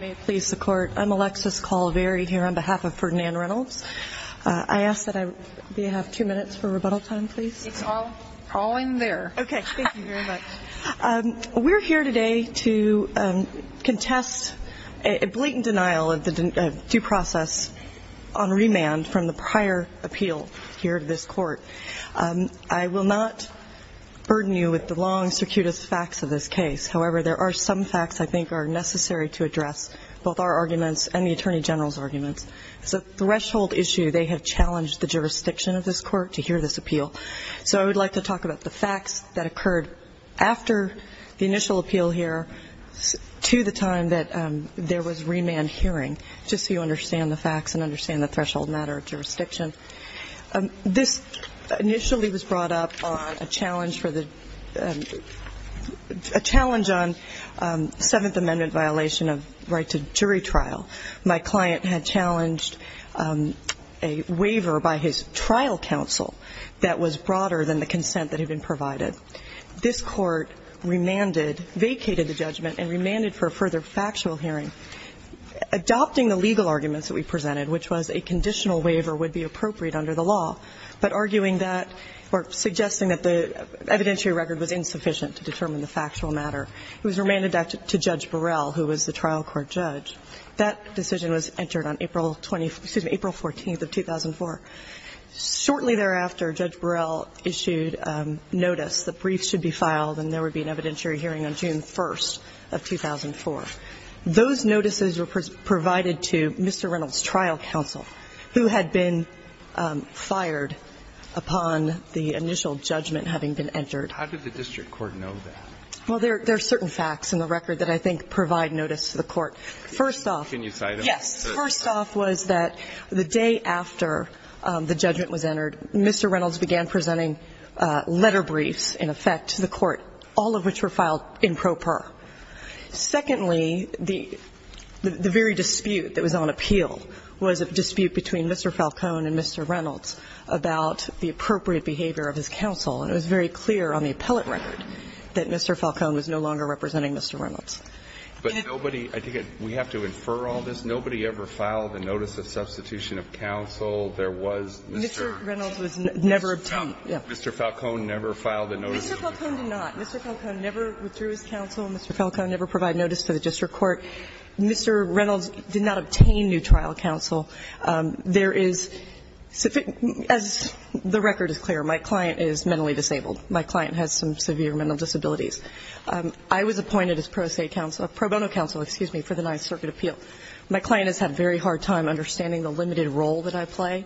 I'm Alexis Colvary here on behalf of Ferdinand Reynolds. I ask that I, do you have two minutes for rebuttal time, please? It's all, all in there. Okay, thank you very much. We're here today to contest a blatant denial of the due process on remand from the prior appeal here to this court. I will not burden you with the long, circuitous facts of this case. However, there are some facts I think are necessary to address both our arguments and the Attorney General's arguments. It's a threshold issue. They have challenged the jurisdiction of this court to hear this appeal. So I would like to talk about the facts that occurred after the initial appeal here to the time that there was remand hearing, just so you understand the facts and understand the threshold matter of jurisdiction. This initially was brought up on a challenge for the, a challenge on Seventh Amendment violation of right to jury trial. My client had challenged a waiver by his trial counsel that was broader than the consent that had been provided. This court remanded, vacated the judgment and remanded for a further factual hearing. Adopting the legal arguments that we presented, which was a conditional waiver would be appropriate under the law, but arguing that or suggesting that the evidentiary record was insufficient to determine the factual matter. It was remanded back to Judge Burrell, who was the trial court judge. That decision was entered on April 20th, excuse me, April 14th of 2004. Shortly thereafter, Judge Burrell issued notice that briefs should be filed and there would be an evidentiary hearing on June 1st of 2004. Those notices were provided to Mr. Reynolds' trial counsel, who had been fired upon the initial judgment having been entered. How did the district court know that? Well, there are certain facts in the record that I think provide notice to the court. First off. Can you cite them? Yes. First off was that the day after the judgment was entered, Mr. Reynolds began presenting letter briefs, in effect, to the court, all of which were filed in pro per. Secondly, the very dispute that was on appeal was a dispute between Mr. Falcone and Mr. Reynolds about the appropriate behavior of his counsel, and it was very clear on the appellate record that Mr. Falcone was no longer representing Mr. Reynolds. But nobody, I think we have to infer all this. Nobody ever filed a notice of substitution of counsel. There was Mr. Falcone never filed a notice. Mr. Falcone did not. Mr. Falcone never withdrew his counsel. Mr. Falcone never provided notice to the district court. Mr. Reynolds did not obtain new trial counsel. There is, as the record is clear, my client is mentally disabled. My client has some severe mental disabilities. I was appointed as pro se counsel, pro bono counsel, excuse me, for the Ninth Circuit appeal. My client has had a very hard time understanding the limited role that I play,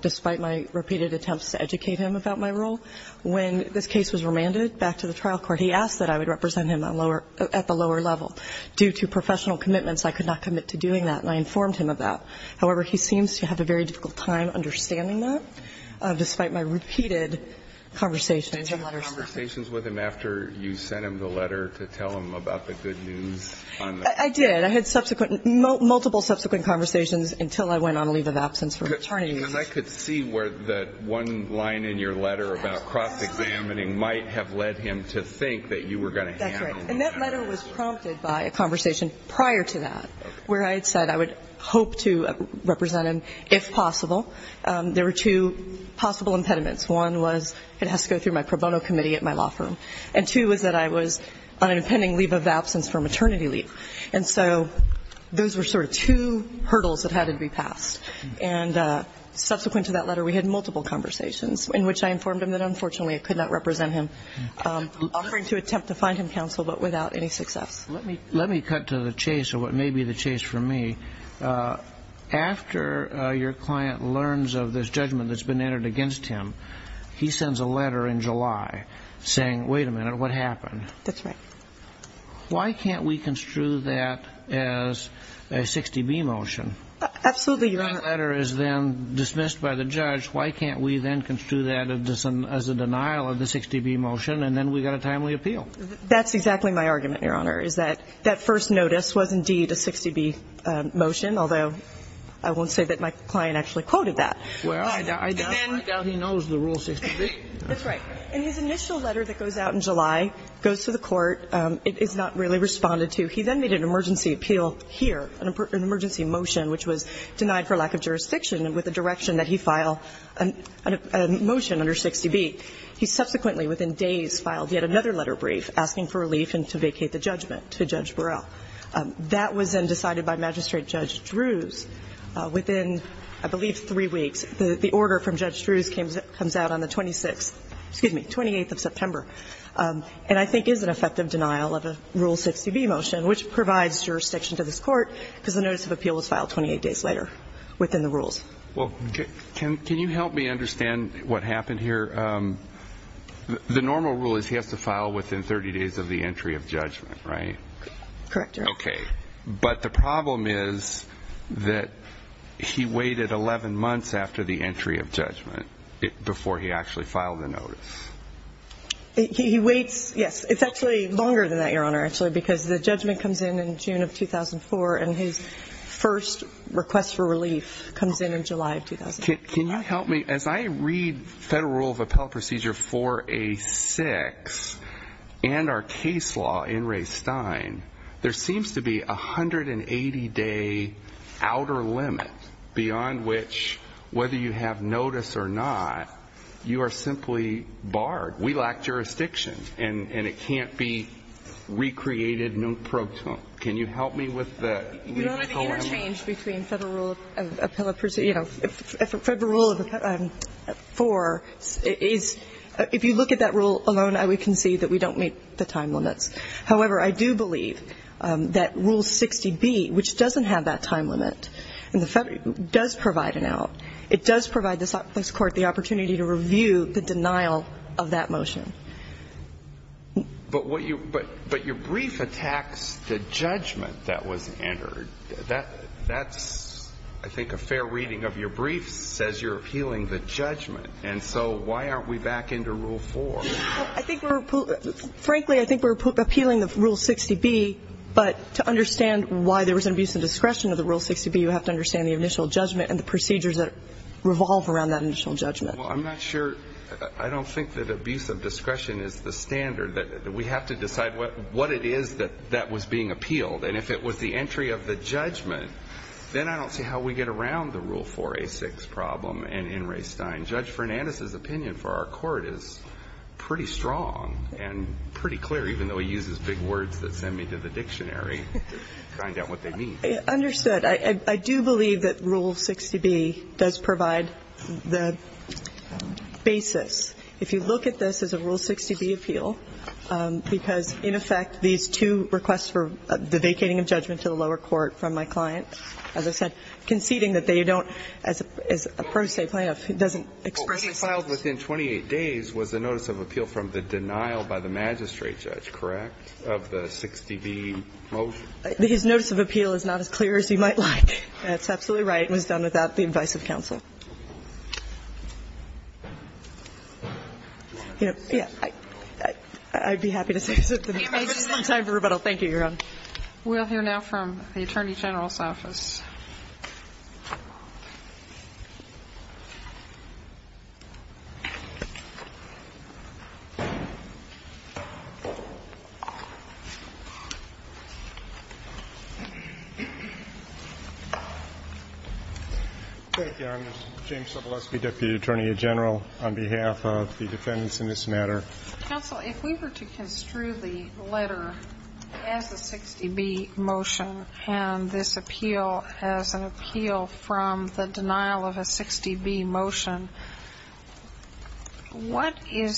despite my repeated attempts to educate him about my role. When this case was remanded back to the trial court, he asked that I would represent him at the lower level. Due to professional commitments, I could not commit to doing that, and I informed him of that. However, he seems to have a very difficult time understanding that, despite my repeated conversations and letters to him. Did you have conversations with him after you sent him the letter to tell him about the good news? I did. I had subsequent, multiple subsequent conversations until I went on leave of absence for attorney. Because I could see where that one line in your letter about cross-examining might have led him to think that you were going to handle that. That's right. And that letter was prompted by a conversation prior to that, where I had said I would hope to represent him if possible. There were two possible impediments. One was it has to go through my pro bono committee at my law firm. And two was that I was on an impending leave of absence for a maternity leave. And so those were sort of two hurdles that had to be passed. And subsequent to that letter, we had multiple conversations in which I informed him that, unfortunately, I could not represent him, offering to attempt to find him counsel, but without any success. Let me cut to the chase, or what may be the chase for me. After your client learns of this judgment that's been entered against him, he sends a letter in July saying, wait a minute, what happened? That's right. Why can't we construe that as a 60-B motion? Absolutely, Your Honor. That letter is then dismissed by the judge. Why can't we then construe that as a denial of the 60-B motion? And then we've got a timely appeal. That's exactly my argument, Your Honor, is that that first notice was indeed a 60-B motion, although I won't say that my client actually quoted that. Well, I doubt he knows the rule 60-B. That's right. And his initial letter that goes out in July goes to the court. It is not really responded to. He then made an emergency appeal here, an emergency motion which was denied for lack of jurisdiction with the direction that he file a motion under 60-B. He subsequently, within days, filed yet another letter brief asking for relief and to vacate the judgment to Judge Burrell. That was then decided by Magistrate Judge Drews within, I believe, three weeks. The order from Judge Drews comes out on the 26th, excuse me, 28th of September and I think is an effective denial of a Rule 60-B motion, which provides jurisdiction to this court because the notice of appeal was filed 28 days later within the rules. Well, can you help me understand what happened here? The normal rule is he has to file within 30 days of the entry of judgment, right? Correct, Your Honor. Okay. But the problem is that he waited 11 months after the entry of judgment before he actually filed the notice. He waits, yes. It's actually longer than that, Your Honor, actually, because the judgment comes in in June of 2004 and his first request for relief comes in in July of 2004. Can you help me? As I read Federal Rule of Appellate Procedure 4A-6 and our case law in Ray Stein, there seems to be a 180-day outer limit beyond which whether you have notice or not, you are simply barred. We lack jurisdiction and it can't be recreated. Can you help me with that? Your Honor, the interchange between Federal Rule of Appellate Procedure, you know, Federal Rule 4 is if you look at that rule alone, we can see that we don't meet the time limits. However, I do believe that Rule 60-B, which doesn't have that time limit, does provide an out. It does provide this Court the opportunity to review the denial of that motion. But what you – but your brief attacks the judgment that was entered. That's, I think, a fair reading of your brief, says you're appealing the judgment. And so why aren't we back into Rule 4? I think we're – frankly, I think we're appealing the Rule 60-B, but to understand why there was an abuse of discretion of the Rule 60-B, you have to understand the initial judgment and the procedures that revolve around that initial judgment. Well, I'm not sure – I don't think that abuse of discretion is the standard. We have to decide what it is that was being appealed. And if it was the entry of the judgment, then I don't see how we get around the Rule 4a6 problem in Ray Stein. Judge Fernandez's opinion for our Court is pretty strong and pretty clear, even though he uses big words that send me to the dictionary to find out what they mean. Understood. But I do believe that Rule 60-B does provide the basis. If you look at this as a Rule 60-B appeal, because, in effect, these two requests for the vacating of judgment to the lower court from my client, as I said, conceding that they don't – as a pro se plaintiff, it doesn't express itself. But what he filed within 28 days was a notice of appeal from the denial by the magistrate judge, correct, of the 60-B motion? His notice of appeal is not as clear as you might like. That's absolutely right. It was done without the advice of counsel. Yeah. I'd be happy to say something else. Thank you, Your Honor. We'll hear now from the Attorney General's office. Thank you. I'm James Sobolewski, Deputy Attorney General, on behalf of the defendants in this matter. Counsel, if we were to construe the letter as a 60-B motion and this appeal as a 60-B motion, what would you do?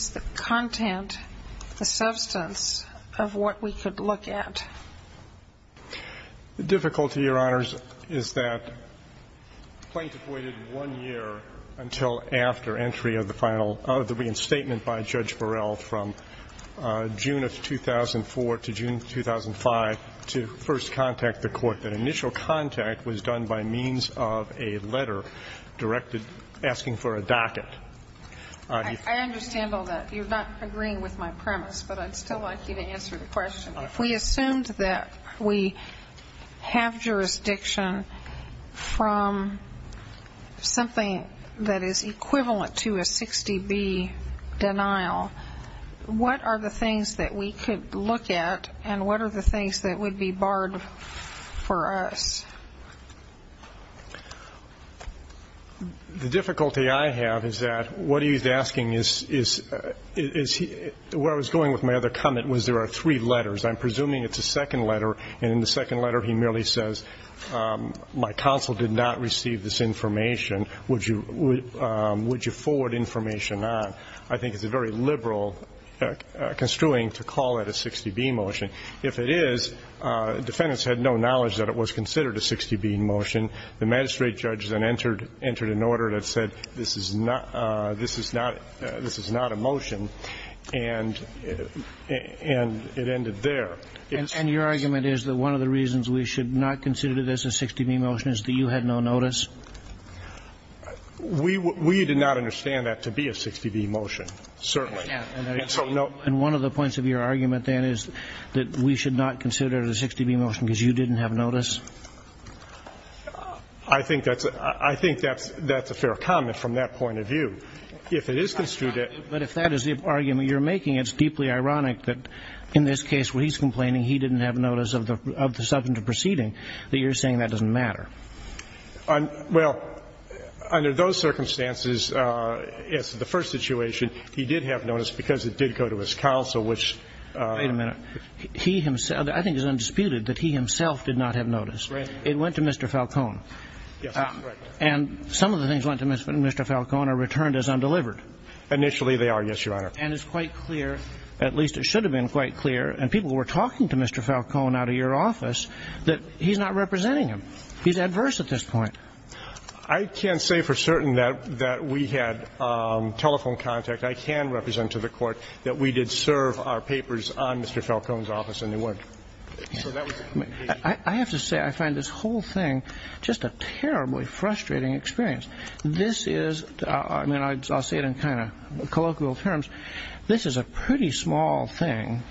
The difficulty, Your Honors, is that the plaintiff waited one year until after entry of the final – of the reinstatement by Judge Burrell from June of 2004 to June of 2005 to first contact the court. And that was done by means of a letter directed – asking for a docket. I understand all that. You're not agreeing with my premise, but I'd still like you to answer the question. If we assumed that we have jurisdiction from something that is equivalent to a 60-B denial, what are the things that we could look at and what are the things that The difficulty I have is that what he's asking is – where I was going with my other comment was there are three letters. I'm presuming it's a second letter, and in the second letter he merely says, my counsel did not receive this information. Would you forward information on? I think it's a very liberal construing to call it a 60-B motion. If it is, defendants had no knowledge that it was considered a 60-B motion. The magistrate judge then entered an order that said this is not – this is not a motion. And it ended there. And your argument is that one of the reasons we should not consider this a 60-B motion is that you had no notice? We did not understand that to be a 60-B motion, certainly. And one of the points of your argument then is that we should not consider it a 60-B motion because you didn't have notice? I think that's – I think that's a fair comment from that point of view. If it is construed as – But if that is the argument you're making, it's deeply ironic that in this case where he's complaining he didn't have notice of the subject of proceeding, that you're saying that doesn't matter. Well, under those circumstances, yes, the first situation, he did have notice because it did go to his counsel, which – Wait a minute. He himself – I think it's undisputed that he himself did not have notice. Right. It went to Mr. Falcone. Yes, that's correct. And some of the things went to Mr. Falcone are returned as undelivered. Initially, they are, yes, Your Honor. And it's quite clear, at least it should have been quite clear, and people were talking to Mr. Falcone out of your office, that he's not representing him. He's adverse at this point. I can't say for certain that we had telephone contact. I can represent to the Court that we did serve our papers on Mr. Falcone's office, and they weren't. I have to say I find this whole thing just a terribly frustrating experience. This is – I mean, I'll say it in kind of colloquial terms. This is a pretty small thing.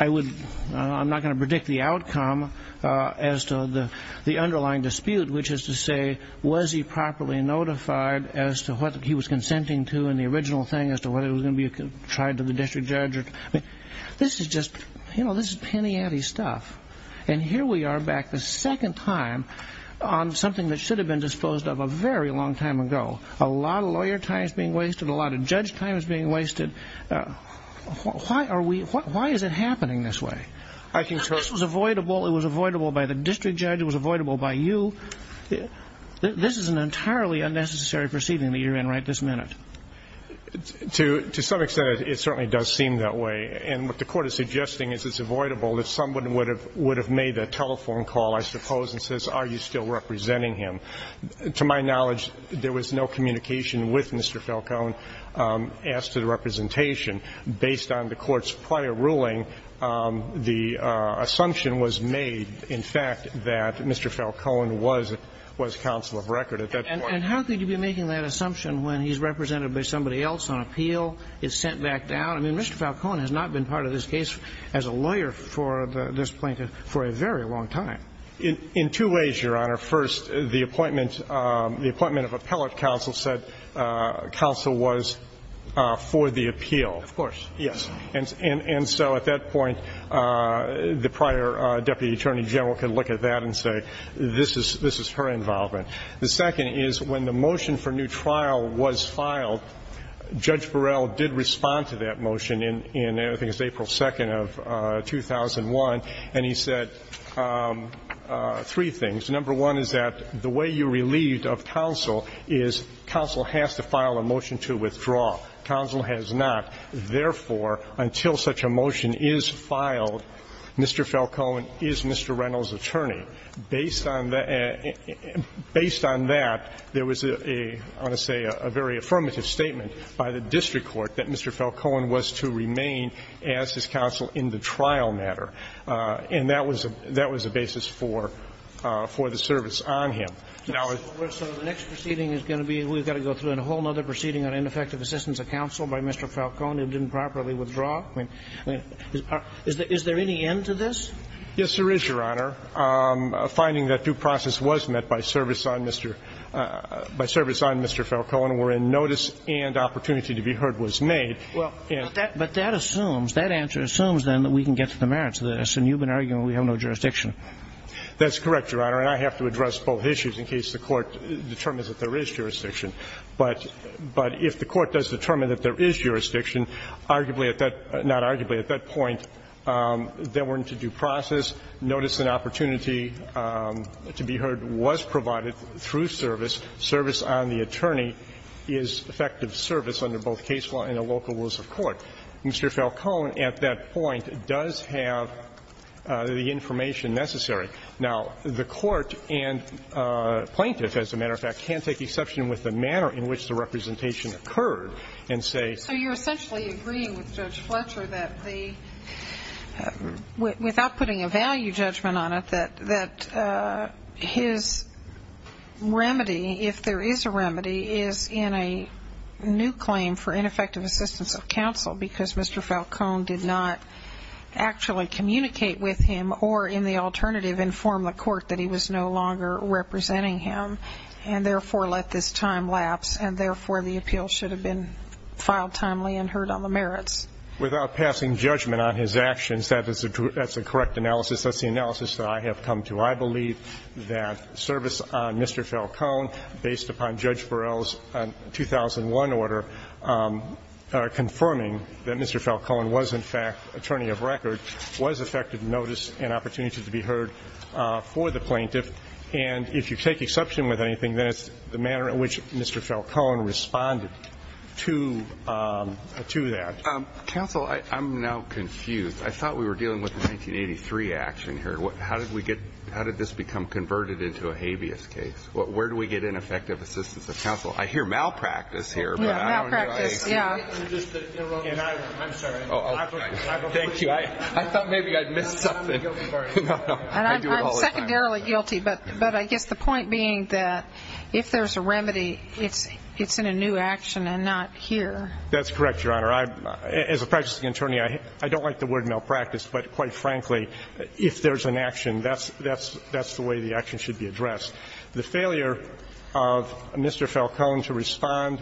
I would – I'm not going to predict the outcome as to the underlying dispute, which is to say was he properly notified as to what he was consenting to in the original thing, as to whether it was going to be tried to the district judge. I mean, this is just – you know, this is penny-ante stuff. And here we are back the second time on something that should have been disposed of a very long time ago. A lot of lawyer time is being wasted. A lot of judge time is being wasted. Why are we – why is it happening this way? I can – This was avoidable. It was avoidable by the district judge. It was avoidable by you. This is an entirely unnecessary proceeding that you're in right this minute. To some extent, it certainly does seem that way. And what the Court is suggesting is it's avoidable if someone would have made that telephone call, I suppose, and says, are you still representing him? To my knowledge, there was no communication with Mr. Falcone as to the representation. Based on the Court's prior ruling, the assumption was made, in fact, that Mr. Falcone was counsel of record at that point. And how could you be making that assumption when he's represented by somebody else on appeal, is sent back down? I mean, Mr. Falcone has not been part of this case as a lawyer for this plaintiff for a very long time. In two ways, Your Honor. First, the appointment of appellate counsel said counsel was for the appeal. Of course. Yes. And so at that point, the prior deputy attorney general can look at that and say, this is her involvement. The second is when the motion for new trial was filed, Judge Burrell did respond to that motion in, I think, it was April 2nd of 2001, and he said three things. Number one is that the way you relieved of counsel is counsel has to file a motion to withdraw. Counsel has not. Therefore, until such a motion is filed, Mr. Falcone is Mr. Reynolds' attorney. Based on that, there was a, I want to say, a very affirmative statement by the district court that Mr. Falcone was to remain as his counsel in the trial matter. And that was a basis for the service on him. So the next proceeding is going to be, we've got to go through a whole other proceeding on ineffective assistance of counsel by Mr. Falcone who didn't properly withdraw? I mean, is there any end to this? Yes, there is, Your Honor. Finding that due process was met by service on Mr. Falcone wherein notice and opportunity to be heard was made. Well, but that assumes, that answer assumes, then, that we can get to the merits of this, and you've been arguing we have no jurisdiction. That's correct, Your Honor, and I have to address both issues in case the Court determines that there is jurisdiction. But if the Court does determine that there is jurisdiction, arguably at that, not arguably at that point, there weren't a due process. Notice and opportunity to be heard was provided through service. Service on the attorney is effective service under both case law and the local rules of court. Mr. Falcone at that point does have the information necessary. Now, the Court and plaintiffs, as a matter of fact, can't take exception with the manner in which the representation occurred and say. So you're essentially agreeing with Judge Fletcher that the, without putting a value judgment on it, that his remedy, if there is a remedy, is in a new claim for ineffective assistance of counsel because Mr. Falcone did not actually communicate with him or, in the alternative, inform the Court that he was no longer representing him and, therefore, let this time lapse and, therefore, the appeal should have been filed timely and heard on the merits. Without passing judgment on his actions, that's a correct analysis. That's the analysis that I have come to. I believe that service on Mr. Falcone, based upon Judge Burrell's 2001 order, confirming that Mr. Falcone was, in fact, attorney of record, was effective notice and opportunity to be heard for the plaintiff. And if you take exception with anything, then it's the manner in which Mr. Falcone responded to that. Counsel, I'm now confused. I thought we were dealing with a 1983 action here. How did this become converted into a habeas case? Where do we get ineffective assistance of counsel? I hear malpractice here. Malpractice, yeah. I'm sorry. Thank you. I thought maybe I'd missed something. No, no. I do it all the time. And I'm secondarily guilty, but I guess the point being that if there's a remedy, it's in a new action and not here. That's correct, Your Honor. As a practicing attorney, I don't like the word malpractice, but quite frankly, if there's an action, that's the way the action should be addressed. The failure of Mr. Falcone to respond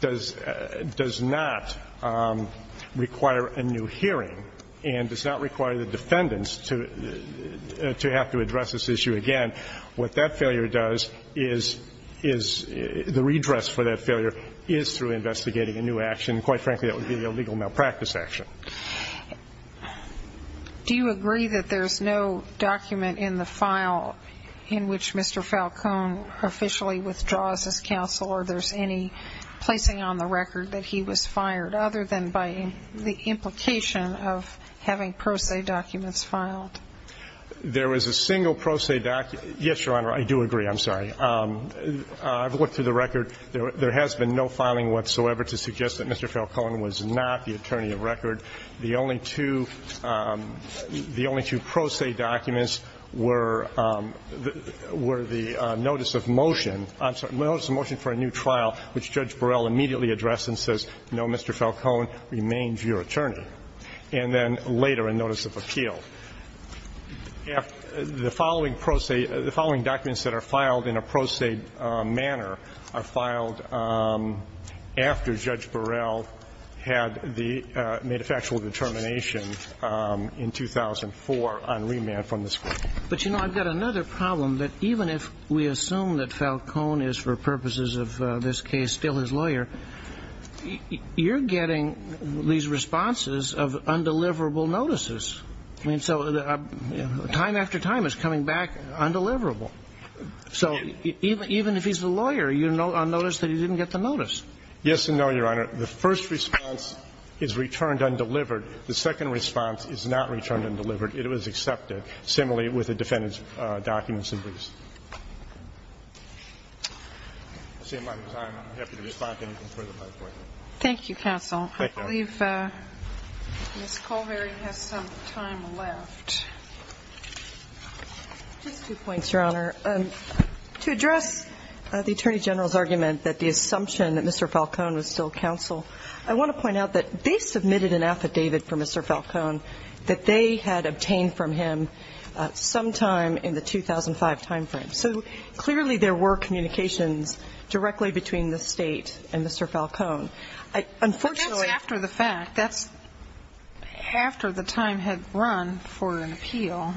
does not require a new hearing and does not require the defendants to have to address this issue again. What that failure does is the redress for that failure is through investigating a new action. Quite frankly, that would be a legal malpractice action. Do you agree that there's no document in the file in which Mr. Falcone officially withdraws his counsel or there's any placing on the record that he was fired other than by the implication of having pro se documents filed? There was a single pro se document. Yes, Your Honor, I do agree. I'm sorry. I've looked through the record. There has been no filing whatsoever to suggest that Mr. Falcone was not the attorney of record. The only two pro se documents were the notice of motion, I'm sorry, the notice of motion for a new trial which Judge Burrell immediately addressed and says, no, Mr. Falcone remains your attorney, and then later a notice of appeal. The following pro se, the following documents that are filed in a pro se manner are filed after Judge Burrell had the made a factual determination in 2004 on remand from the Supreme Court. But, you know, I've got another problem that even if we assume that Falcone is, for purposes of this case, still his lawyer, you're getting these responses of undeliverable notices. I mean, so time after time it's coming back undeliverable. So even if he's the lawyer, you'll notice that he didn't get the notice. Yes and no, Your Honor. The first response is returned undelivered. The second response is not returned undelivered. It was accepted. Similarly with the defendant's documents, at least. I see my time. I'm happy to respond to anything further. Thank you, counsel. Thank you. Ms. Culvery has some time left. Just two points, Your Honor. To address the Attorney General's argument that the assumption that Mr. Falcone was still counsel, I want to point out that they submitted an affidavit for Mr. Falcone that they had obtained from him sometime in the 2005 timeframe. So clearly there were communications directly between the State and Mr. Falcone. But that's after the fact. That's after the time had run for an appeal.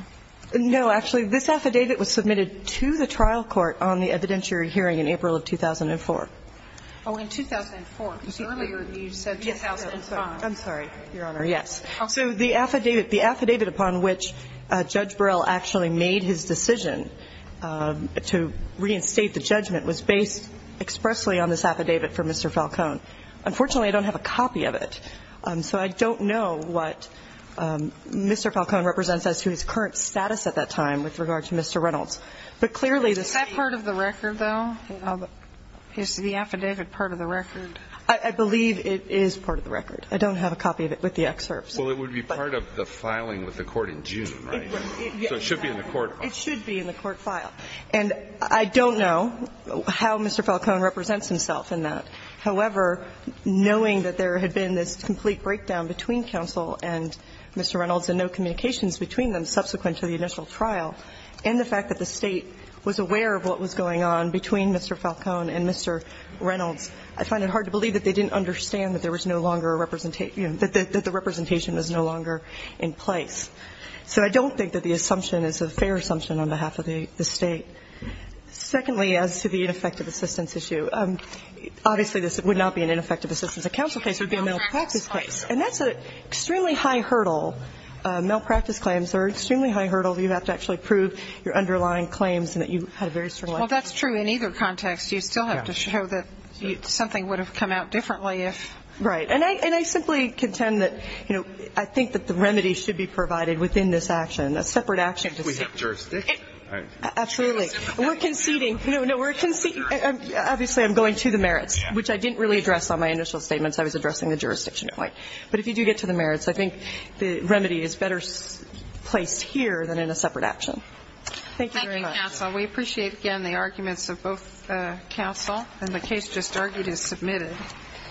No. Actually, this affidavit was submitted to the trial court on the evidentiary hearing in April of 2004. Oh, in 2004. Because earlier you said 2005. I'm sorry, Your Honor. Yes. So the affidavit upon which Judge Burrell actually made his decision to reinstate the judgment was based expressly on this affidavit for Mr. Falcone. Unfortunately, I don't have a copy of it. So I don't know what Mr. Falcone represents as to his current status at that time with regard to Mr. Reynolds. But clearly the State ---- Is that part of the record, though? Is the affidavit part of the record? I believe it is part of the record. I don't have a copy of it with the excerpts. Well, it would be part of the filing with the court in June, right? So it should be in the court. It should be in the court file. And I don't know how Mr. Falcone represents himself in that. However, knowing that there had been this complete breakdown between counsel and Mr. Reynolds and no communications between them subsequent to the initial trial, and the fact that the State was aware of what was going on between Mr. Falcone and Mr. Reynolds, I find it hard to believe that they didn't understand that there was no longer a representation ---- that the representation was no longer in place. So I don't think that the assumption is a fair assumption on behalf of the State. And secondly, as to the ineffective assistance issue, obviously this would not be an ineffective assistance. A counsel case would be a malpractice case. And that's an extremely high hurdle. Malpractice claims are extremely high hurdles. You have to actually prove your underlying claims and that you had a very strong evidence. Well, that's true in either context. You still have to show that something would have come out differently if ---- Right. And I simply contend that, you know, I think that the remedy should be provided within this action, a separate action to see ---- We have jurisdiction. Absolutely. We're conceding. No, no. We're conceding. Obviously, I'm going to the merits, which I didn't really address on my initial statements. I was addressing the jurisdiction point. But if you do get to the merits, I think the remedy is better placed here than in a separate action. Thank you very much. Thank you, counsel. We appreciate, again, the arguments of both counsel. And the case just argued is submitted.